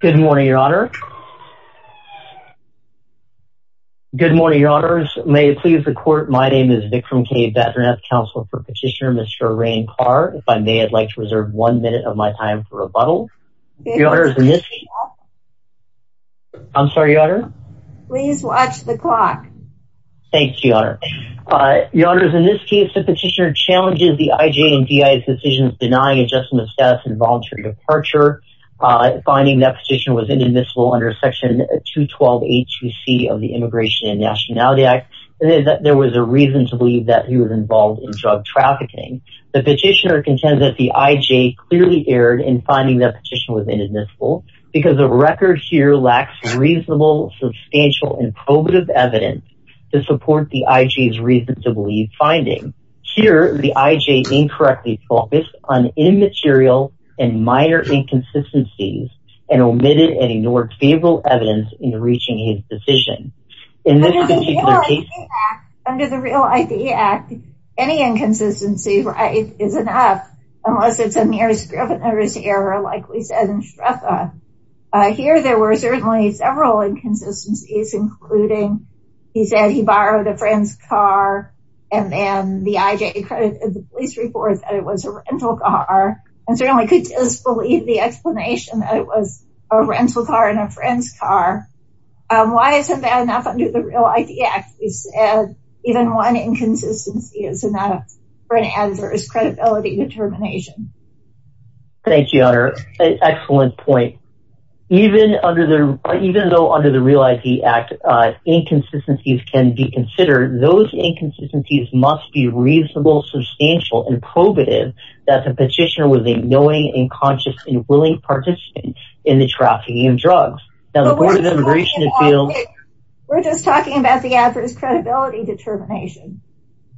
Good morning, your honor. Good morning, your honors. May it please the court, my name is Vikram K. Batranath, counsel for petitioner Mr. Rean Carr. If I may, I'd like to reserve one minute of my time for rebuttal. I'm sorry, your honor. Please watch the clock. Thanks, your honor. Your honors, in this case, the petitioner challenges the IJ and DI's decisions denying adjustment of status and voluntary departure, finding that petition was inadmissible under section 212A2C of the Immigration and Nationality Act, and that there was a reason to believe that he was involved in drug trafficking. The petitioner contends that the IJ clearly erred in finding that petition was inadmissible because the record here lacks reasonable, substantial, and probative evidence to support the IJ's reason to believe finding. Here, the IJ incorrectly focused on immaterial and minor inconsistencies and omitted and ignored favorable evidence in reaching his decision. Under the Real ID Act, any inconsistency is enough unless it's a mere scrivener's error like we said in SHREFA. Here, there were certainly several inconsistencies, including he said he borrowed a friend's car, and then the IJ accredited the police report that it was a rental car, and certainly could disbelieve the explanation that it was a rental car and a friend's car. Why isn't that enough under the Real ID Act? He said even one inconsistency is enough for an editor's credibility determination. Thank you, Honor. Excellent point. Even though under the Real ID Act, inconsistencies can be considered, those inconsistencies must be reasonable, substantial, and probative that the petitioner was a knowing, conscious, and willing participant in the trafficking of drugs. Now, the Board of Immigration... We're just talking about the advert's credibility determination.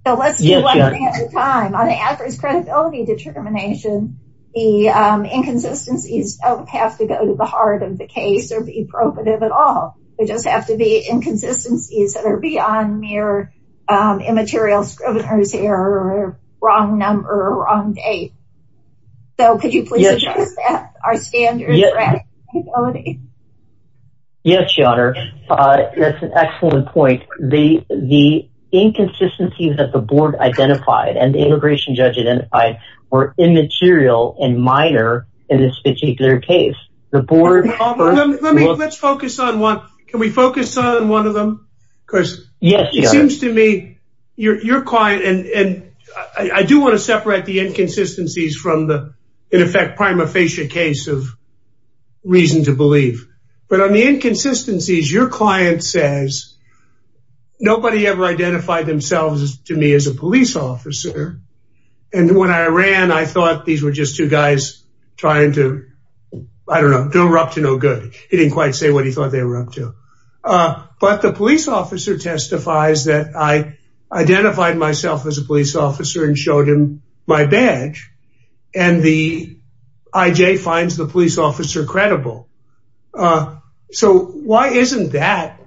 So, let's do one thing at a time. On the advert's credibility determination, the inconsistencies don't have to go to the heart of the case or be probative at all. They just have to be inconsistencies that are beyond mere immaterial scrivener's error, or wrong number, or wrong date. So, could you please address that? Are standards... Yes, Your Honor. That's an excellent point. The inconsistencies that the board identified and the immigration judge identified were immaterial and minor in this particular case. The board... Let's focus on one. Can we focus on one of them? Because it seems to me, you're quiet and I do want to separate the inconsistencies from the, in effect, prima facie case of reason to believe. But on the inconsistencies, your client says, nobody ever identified themselves to me as a police officer. And when I ran, I thought these were just two guys trying to... I don't know. They were up to no good. He didn't quite say what he thought they were up to. But the police officer testifies that I identified myself as a police officer. I.J. finds the police officer credible. So, why isn't that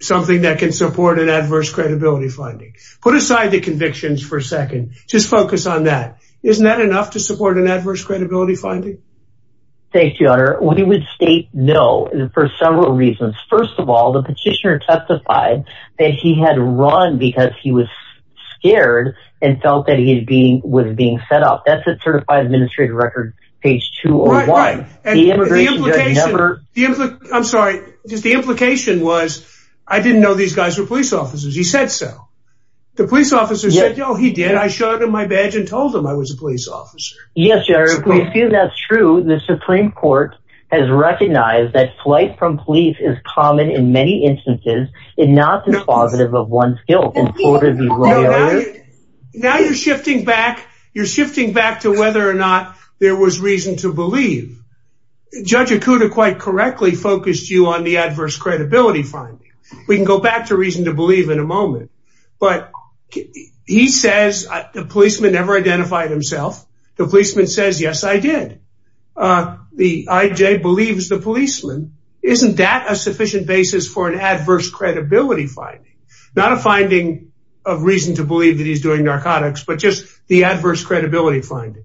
something that can support an adverse credibility finding? Put aside the convictions for a second. Just focus on that. Isn't that enough to support an adverse credibility finding? Thank you, Your Honor. We would state no for several reasons. First of all, the petitioner testified that he had run because he was scared and felt that he was being set up. That's a administrative record, page two or one. I'm sorry. Just the implication was, I didn't know these guys were police officers. He said so. The police officer said, oh, he did. I showed him my badge and told him I was a police officer. Yes, Your Honor. We assume that's true. The Supreme Court has recognized that flight from police is common in many instances and not dispositive of one's You're shifting back to whether or not there was reason to believe. Judge Okuda quite correctly focused you on the adverse credibility finding. We can go back to reason to believe in a moment. But he says the policeman never identified himself. The policeman says, yes, I did. The I.J. believes the policeman. Isn't that a sufficient basis for an adverse credibility finding? Not a finding of reason to believe that he's doing narcotics, but just the adverse credibility finding.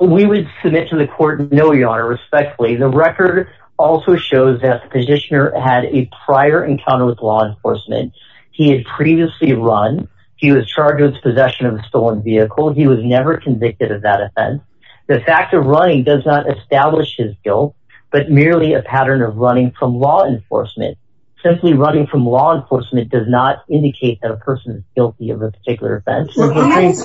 We would submit to the court, no, Your Honor, respectfully. The record also shows that the petitioner had a prior encounter with law enforcement. He had previously run. He was charged with possession of a stolen vehicle. He was never convicted of that offense. The fact of running does not establish his guilt, but merely a pattern of running from law enforcement. Simply running from law enforcement does not indicate that a person is guilty of a particular offense. Recognized.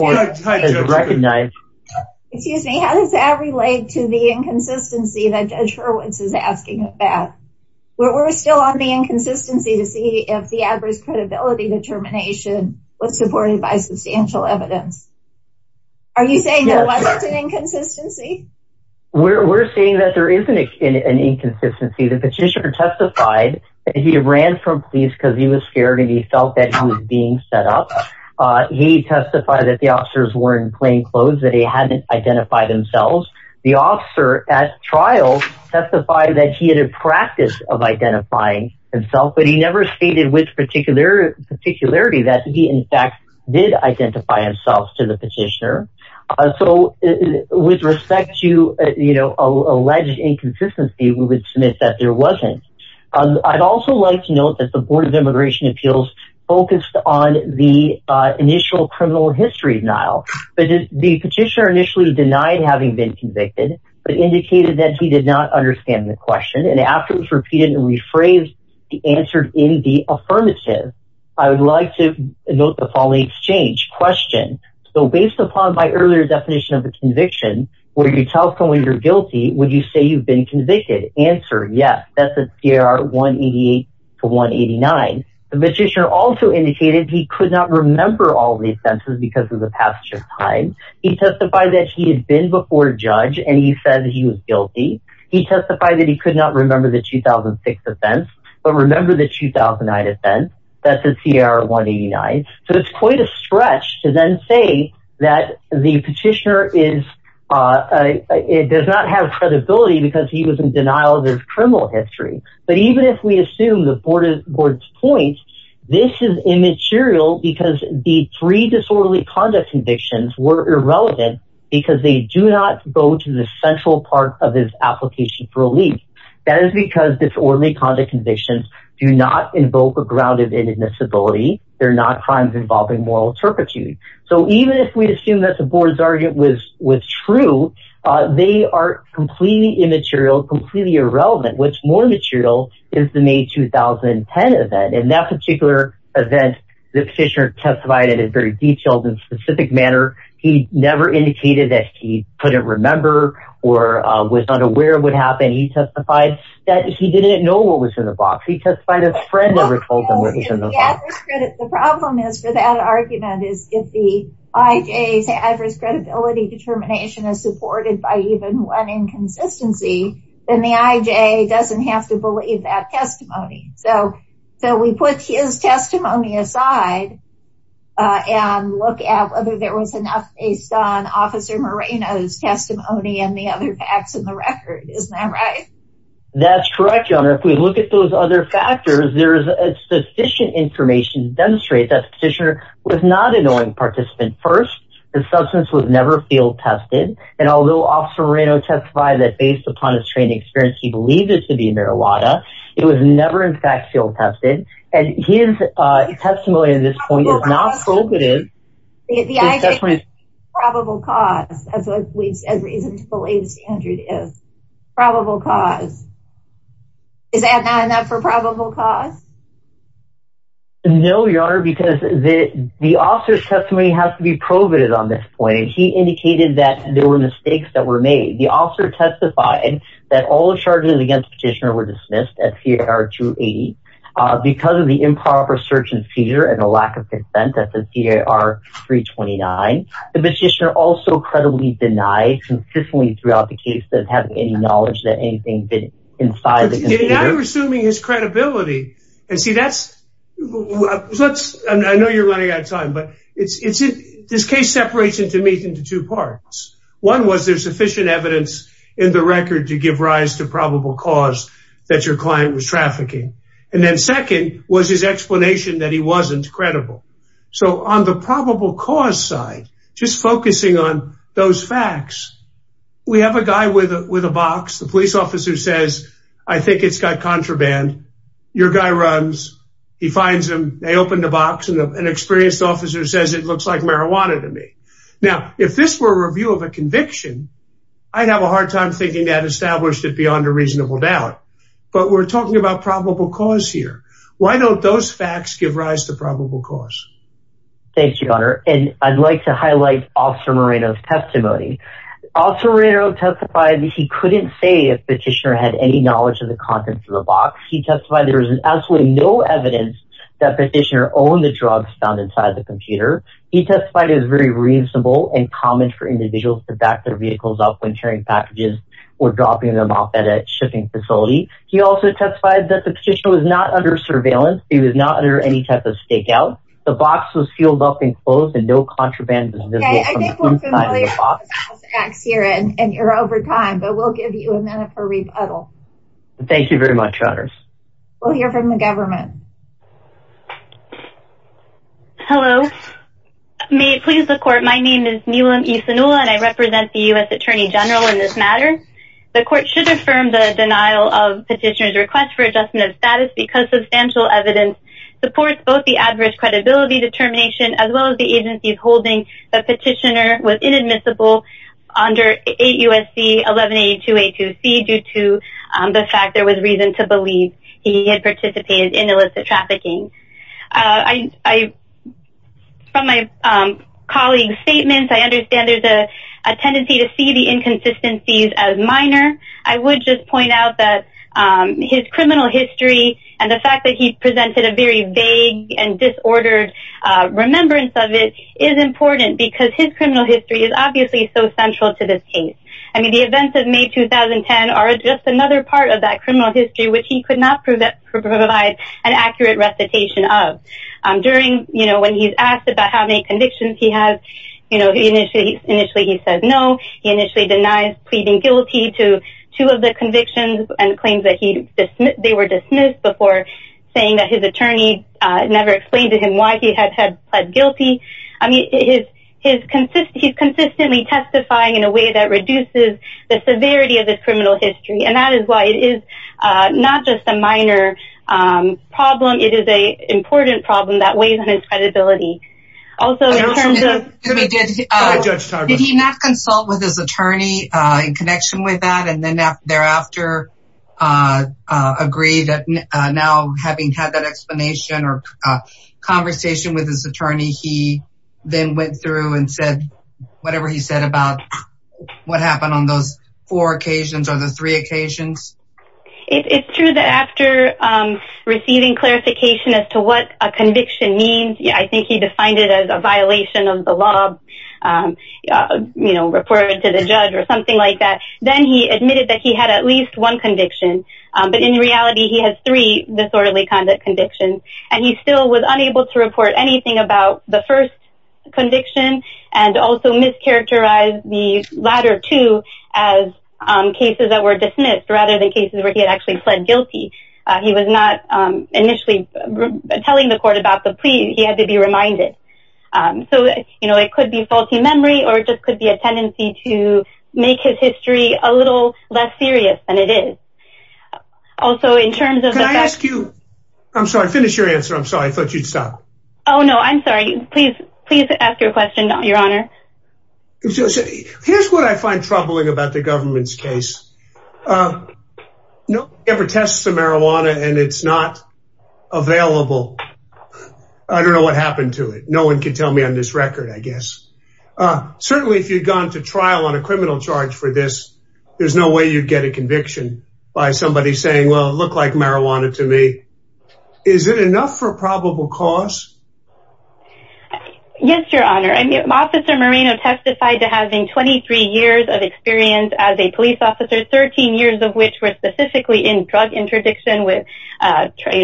Excuse me. How does that relate to the inconsistency that Judge Hurwitz is asking about? We're still on the inconsistency to see if the adverse credibility determination was supported by substantial evidence. Are you saying there wasn't an inconsistency? We're saying that there is an inconsistency. The petitioner testified that he ran from because he was scared and he felt that he was being set up. He testified that the officers were in plain clothes, that he hadn't identified themselves. The officer at trial testified that he had a practice of identifying himself, but he never stated with particular particularity that he in fact did identify himself to the petitioner. So with respect to alleged inconsistency, we would submit that there wasn't. I'd also like to note that the Board of Immigration Appeals focused on the initial criminal history denial, but the petitioner initially denied having been convicted, but indicated that he did not understand the question. And after it was repeated and rephrased, he answered in the affirmative. I would like to note the following exchange question. So based upon my earlier definition of a conviction, where you tell someone you're convicted, answer, yes, that's a CR 188 to 189. The petitioner also indicated he could not remember all the offenses because of the passage of time. He testified that he had been before a judge and he said he was guilty. He testified that he could not remember the 2006 offense, but remember the 2009 offense. That's a CR 189. So it's quite a stretch to then say that the petitioner does not have credibility because he was in denial of his criminal history. But even if we assume the Board's point, this is immaterial because the three disorderly conduct convictions were irrelevant because they do not go to the central part of his application for relief. That is because disorderly conduct convictions do not invoke a grounded inadmissibility. They're not crimes involving moral turpitude. So even if we assume that the Board's argument was true, they are completely immaterial, completely irrelevant. What's more material is the May 2010 event. In that particular event, the petitioner testified in a very detailed and specific manner. He never indicated that he couldn't remember or was unaware of what happened. He testified that he didn't know what was in the if the IJ's adverse credibility determination is supported by even one inconsistency, then the IJ doesn't have to believe that testimony. So we put his testimony aside and look at whether there was enough based on Officer Moreno's testimony and the other facts in the record. Isn't that right? That's correct, Your Honor. If we look at those other factors, there is sufficient information to demonstrate that the petitioner was not a knowing participant first. The substance was never field tested. And although Officer Moreno testified that based upon his training experience, he believed it to be marijuana, it was never in fact field tested. And his testimony at this point is not probative. The IJ is a probable cause, as reasonable as the standard is. Probable cause. Is that not enough for probable cause? No, Your Honor, because the officer's testimony has to be provative on this point. He indicated that there were mistakes that were made. The officer testified that all charges against petitioner were dismissed at CAR-280 because of the improper search and seizure and the lack of consistency throughout the case. Now you're assuming his credibility. I know you're running out of time, but this case separates into two parts. One was there's sufficient evidence in the record to give rise to probable cause that your client was trafficking. And then second was his explanation that he wasn't credible. So on the probable cause side, just focusing on those facts, we have a guy with a box. The police officer says, I think it's got contraband. Your guy runs. He finds him. They open the box and an experienced officer says it looks like marijuana to me. Now, if this were a review of a conviction, I'd have a hard time thinking that established it beyond a reasonable doubt. But we're talking about probable cause here. Why don't those facts give rise to probable cause? Thank you, Your Honor. And I'd like to highlight Officer Moreno's testimony. Officer Moreno testified he couldn't say if petitioner had any knowledge of the contents of the box. He testified there was absolutely no evidence that petitioner owned the drugs found inside the computer. He testified it was very reasonable and common for individuals to back their vehicles up when carrying packages or dropping them off at a shipping facility. He also testified that the petitioner was not under surveillance. He was not under any type of stakeout. The box was filled up and closed and no contraband was visible from the inside of the box. We'll give you a minute for rebuttal. Thank you very much, Your Honors. We'll hear from the government. Hello. May it please the court. My name is Milam E. Sanula and I represent the U.S. Attorney General in this matter. The court should affirm the denial of petitioner's request for adverse credibility determination as well as the agency's holding the petitioner was inadmissible under 8 U.S.C. 1182A2C due to the fact there was reason to believe he had participated in illicit trafficking. From my colleague's statements, I understand there's a tendency to see the inconsistencies as minor. I would just point out that his criminal history and the fact that he disordered remembrance of it is important because his criminal history is obviously so central to this case. I mean, the events of May 2010 are just another part of that criminal history which he could not provide an accurate recitation of. During, you know, when he's asked about how many convictions he has, you know, initially he says no. He initially denies pleading guilty to two of the convictions and claims that they were dismissed before saying that his attorney never explained to him why he had pled guilty. I mean, he's consistently testifying in a way that reduces the severity of the criminal history and that is why it is not just a minor problem. It is an important problem that weighs on his credibility. Also, in terms of... Did he not consult with his attorney in connection with that and then thereafter agree that now having had that explanation or conversation with his attorney, he then went through and said whatever he said about what happened on those four occasions or the three occasions? It's true that after receiving clarification as to what a conviction means, I think he defined it as a violation of the law, you know, reported to the judge or something like that. Then he admitted that he had at least one conviction and he still was unable to report anything about the first conviction and also mischaracterized the latter two as cases that were dismissed rather than cases where he had actually pled guilty. He was not initially telling the court about the plea. He had to be reminded. So, you know, it could be faulty memory or it just could be a tendency to make his history a little less serious than it is. Also, in terms of... Can I ask you? I'm sorry, finish your answer. I'm sorry, I thought you'd stop. Oh, no, I'm sorry. Please, please ask your question, Your Honor. Here's what I find troubling about the government's case. No one ever tests the marijuana and it's not available. I don't know what happened to it. No one can tell me on this record, I guess. Certainly, if you'd gone to trial on a criminal charge for this, there's no way you'd get a conviction by somebody saying, well, it looked like marijuana to me. Is it enough for probable cause? Yes, Your Honor. I mean, Officer Moreno testified to having 23 years of experience as a police officer, 13 years of which were specifically in drug interdiction with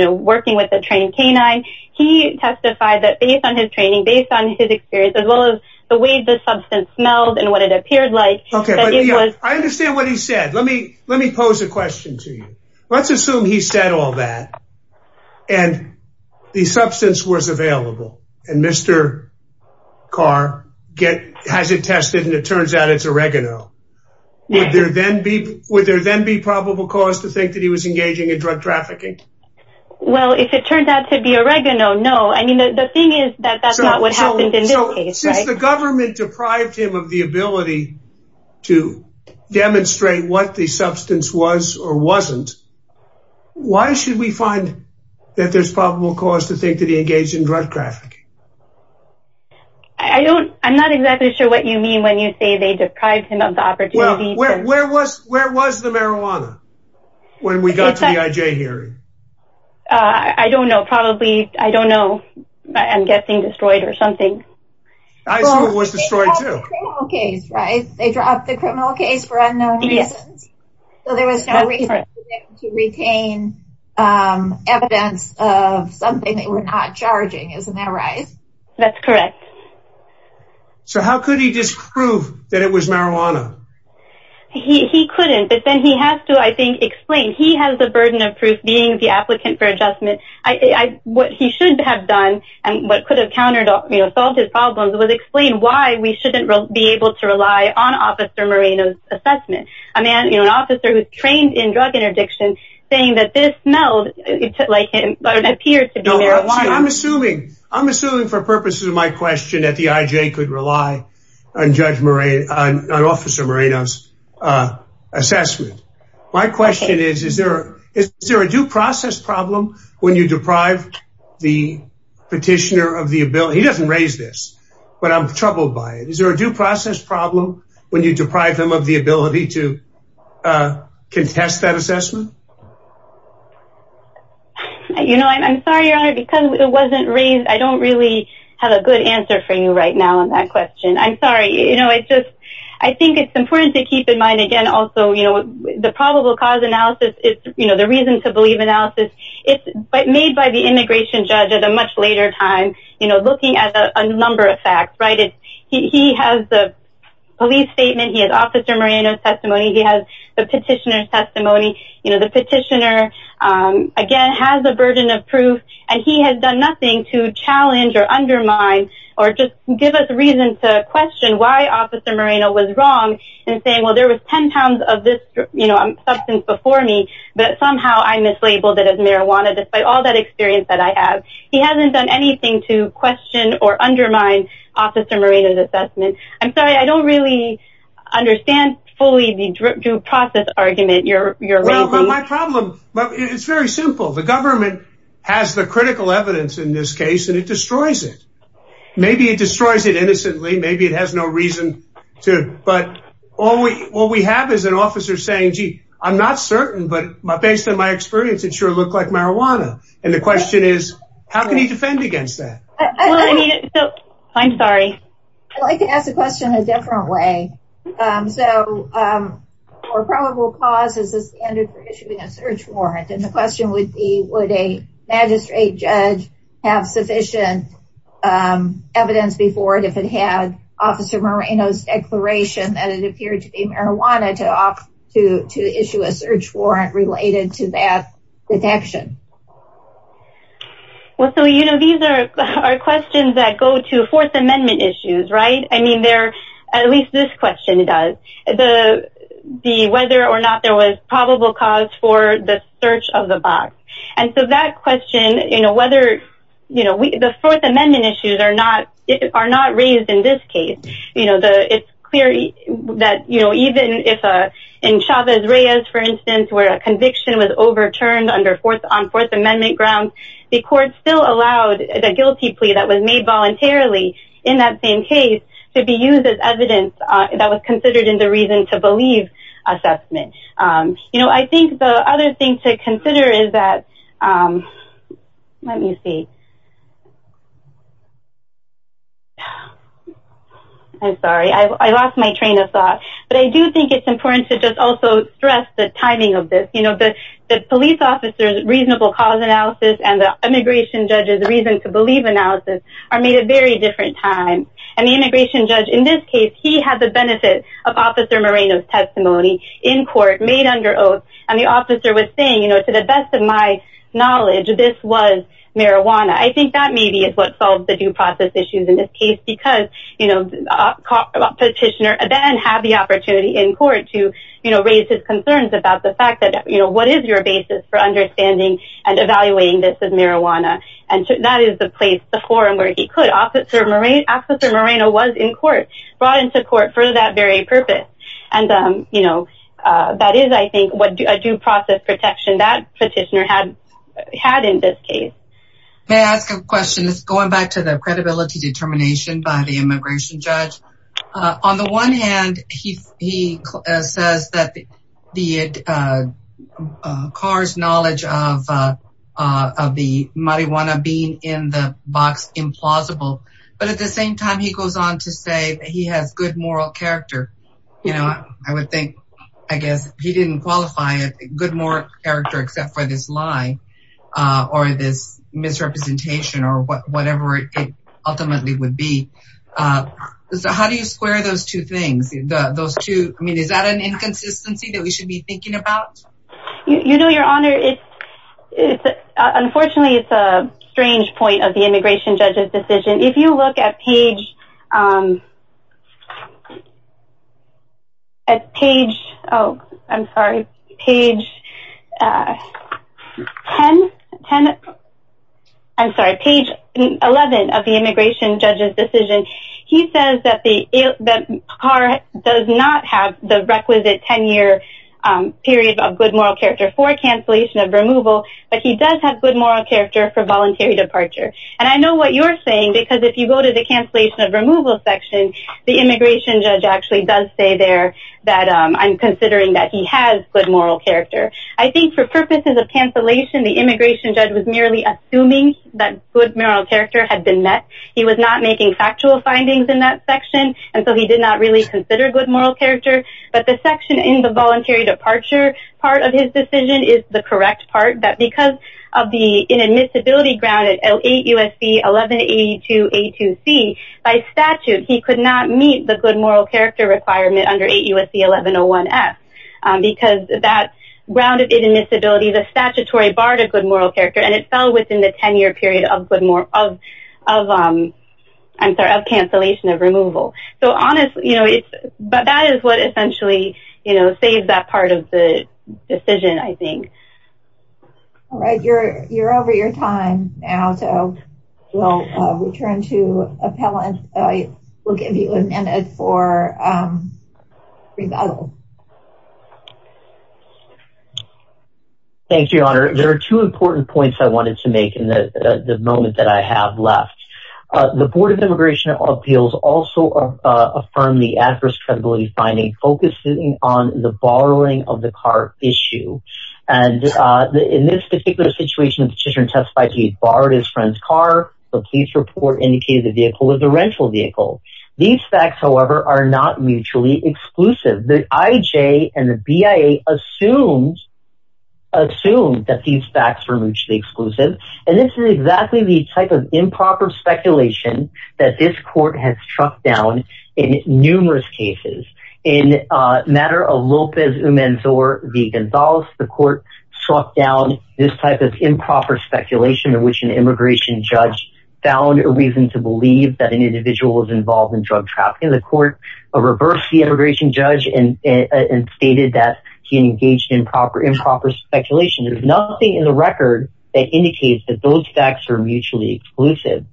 working with a trained canine. He testified that based on his training, based on his experience, as well as the way the substance smelled and what it appeared like. Okay, but I understand what he said. Let me pose a question to you. Let's assume he said all that and the substance was available and Mr. Carr has it tested and it turns out it's oregano. Would there then be probable cause to think that he was engaging in drug trafficking? Well, if it turned out to be oregano, no. I mean, the thing is that that's not what happened in this case. Since the government deprived him of the ability to demonstrate what the substance was or wasn't, why should we find that there's probable cause to think that he engaged in drug trafficking? I don't, I'm not exactly sure what you mean when you say they deprived him of the opportunity. Where was the marijuana when we got to the IJ hearing? I don't know. Probably, I don't know. I'm guessing destroyed or something. I assume it was destroyed too. Well, they dropped the criminal case, right? They dropped the criminal case for unknown reasons. So there was no reason to retain evidence of something they were not charging. Isn't that right? That's correct. So how could he disprove that it was marijuana? He couldn't, but he has to, I think, explain. He has the burden of proof being the applicant for adjustment. What he should have done and what could have countered, you know, solved his problems was explain why we shouldn't be able to rely on Officer Moreno's assessment. A man, you know, an officer who's trained in drug interdiction saying that this smelled like him but it appeared to be marijuana. I'm assuming, I'm assuming for purposes of my question that the IJ could rely on Judge Moreno, on Officer Moreno's assessment. My question is, is there a due process problem when you deprive the petitioner of the ability? He doesn't raise this, but I'm troubled by it. Is there a due process problem when you deprive them of the ability to contest that assessment? You know, I'm sorry, Your Honor, because it wasn't raised. I don't really have a good answer for you right now on that question. I'm sorry. You know, it's just, I think it's important to keep in mind, again, also, you know, the probable cause analysis is, you know, the reason to believe analysis. It's made by the immigration judge at a much later time, you know, looking at a number of facts, right? He has the police statement. He has Officer Moreno's testimony. He has the petitioner's testimony. You know, the petitioner, again, has the burden of proof, and he has done nothing to challenge or undermine or just give us a reason to question why Officer Moreno was wrong in saying, well, there was 10 pounds of this substance before me, but somehow I mislabeled it as marijuana, despite all that experience that I have. He hasn't done anything to question or undermine Officer Moreno's assessment. I'm sorry, I don't really understand fully the due process argument you're raising. My problem, it's very simple. The government has the critical evidence in this case, and it destroys it. Maybe it destroys it innocently. Maybe it has no reason to. But all we have is an officer saying, gee, I'm not certain, but based on my experience, it sure looked like marijuana. And the question is, how can he defend against that? I'm sorry. I'd like to ask the question a different way. So, for probable cause is the standard for issuing a search warrant. And the question would be, would a magistrate judge have sufficient evidence before it if it had Officer Moreno's declaration that it appeared to be marijuana to issue a search warrant related to that detection? Well, so, you know, these are questions that go to Fourth Amendment issues, right? I mean, at least this question does. The whether or not there was probable cause for the search of the box. And so that question, you know, whether, you know, the Fourth Amendment issues are not raised in this case. You know, it's clear that, you know, even if in Chavez-Reyes, for instance, where a conviction was overturned on Fourth Amendment grounds, the court still allowed the guilty plea that was made voluntarily in that same case to be used as evidence that was considered in the reason to believe assessment. You know, I think the other thing to consider is that, let me see. I'm sorry. I lost my train of thought. But I do think it's important to just stress the timing of this. You know, the police officer's reasonable cause analysis and the immigration judge's reason to believe analysis are made at very different times. And the immigration judge in this case, he had the benefit of Officer Moreno's testimony in court made under oath. And the officer was saying, you know, to the best of my knowledge, this was marijuana. I think that maybe is what solves the due process issues in this case, because, you know, the petitioner then had the opportunity in court to, you know, raise his concerns about the fact that, you know, what is your basis for understanding and evaluating this as marijuana? And that is the forum where he could. Officer Moreno was in court, brought into court for that very purpose. And, you know, that is, I think, what a due process protection that petitioner had in this case. May I ask a question? It's going back to the credibility determination by the immigration judge. On the one hand, he says that the car's knowledge of the marijuana being in the box implausible. But at the same time, he goes on to say he has good moral character. You know, I would think, I guess he didn't qualify a good moral character except for this lie, or this misrepresentation, or whatever it ultimately would be. So how do you square those two things? Those two? I mean, is that an inconsistency that we should be thinking about? You know, Your Honor, it's, unfortunately, it's a strange point of the immigration judge's decision. If you look at page, at page, oh, I'm sorry, page 10, I'm sorry, page 11 of the immigration judge's decision, he says that the car does not have the requisite 10-year period of good moral character for cancellation of removal. But he does have good moral character for voluntary departure. And I know what you're saying, because if you go to the cancellation of removal section, the immigration judge actually does say there that I'm considering that he has good moral character. I think for purposes of cancellation, the immigration judge was merely assuming that good moral character had been met. He was not making factual findings in that section, and so he did not really consider good moral character. But the section in the voluntary departure part of his decision is the correct part, that because of the inadmissibility grounded at 8 U.S.C. 1182A2C, by statute, he could not meet the good moral character requirement under 8 U.S.C. 1101F, because that grounded inadmissibility, the statutory bar to good moral character, and it fell within the 10-year period of cancellation of removal. So honestly, that is what essentially saved that part of the decision, I think. All right, you're over your time now, so we'll return to appellant. We'll give you a minute for rebuttal. Thank you, Your Honor. There are two important points I wanted to make in the moment that I have left. The Board of Immigration Appeals also affirmed the adverse credibility finding focusing on the borrowing of the car issue, and in this particular situation, the petitioner testified he borrowed his friend's car. The police report indicated the vehicle was a rental vehicle. These facts, however, are not mutually exclusive. The IJ and the BIA assumed that these facts were mutually exclusive, and this is exactly the type of improper speculation that this court has struck down in numerous cases. In the matter of Lopez Umenzor v. Gonzalez, the court struck down this improper speculation in which an immigration judge found a reason to believe that an individual was involved in drug trafficking. The court reversed the immigration judge and stated that he engaged in improper speculation. There's nothing in the record that indicates that those facts are mutually exclusive.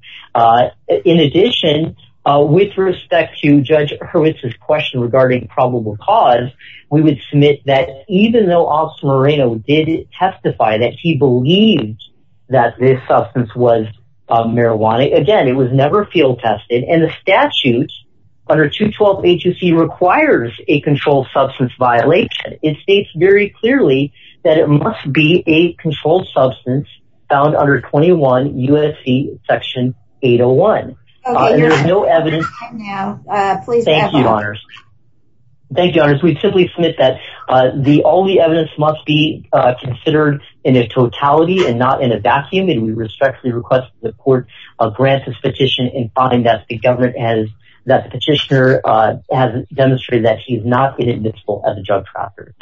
In addition, with respect to Judge Hurwitz's question regarding probable cause, we would submit that even though Officer Moreno did testify that he believed that this substance was marijuana, again, it was never field tested, and the statute under 212-HUC requires a controlled substance violation. It states very clearly that it must be a controlled substance found under 21 USC section 801. There is no evidence. Thank you, Honors. We simply submit that all the evidence must be considered in a totality and not in a vacuum, and we respectfully request that the court grant this petition and find that the petitioner has demonstrated that he is not a possessed person.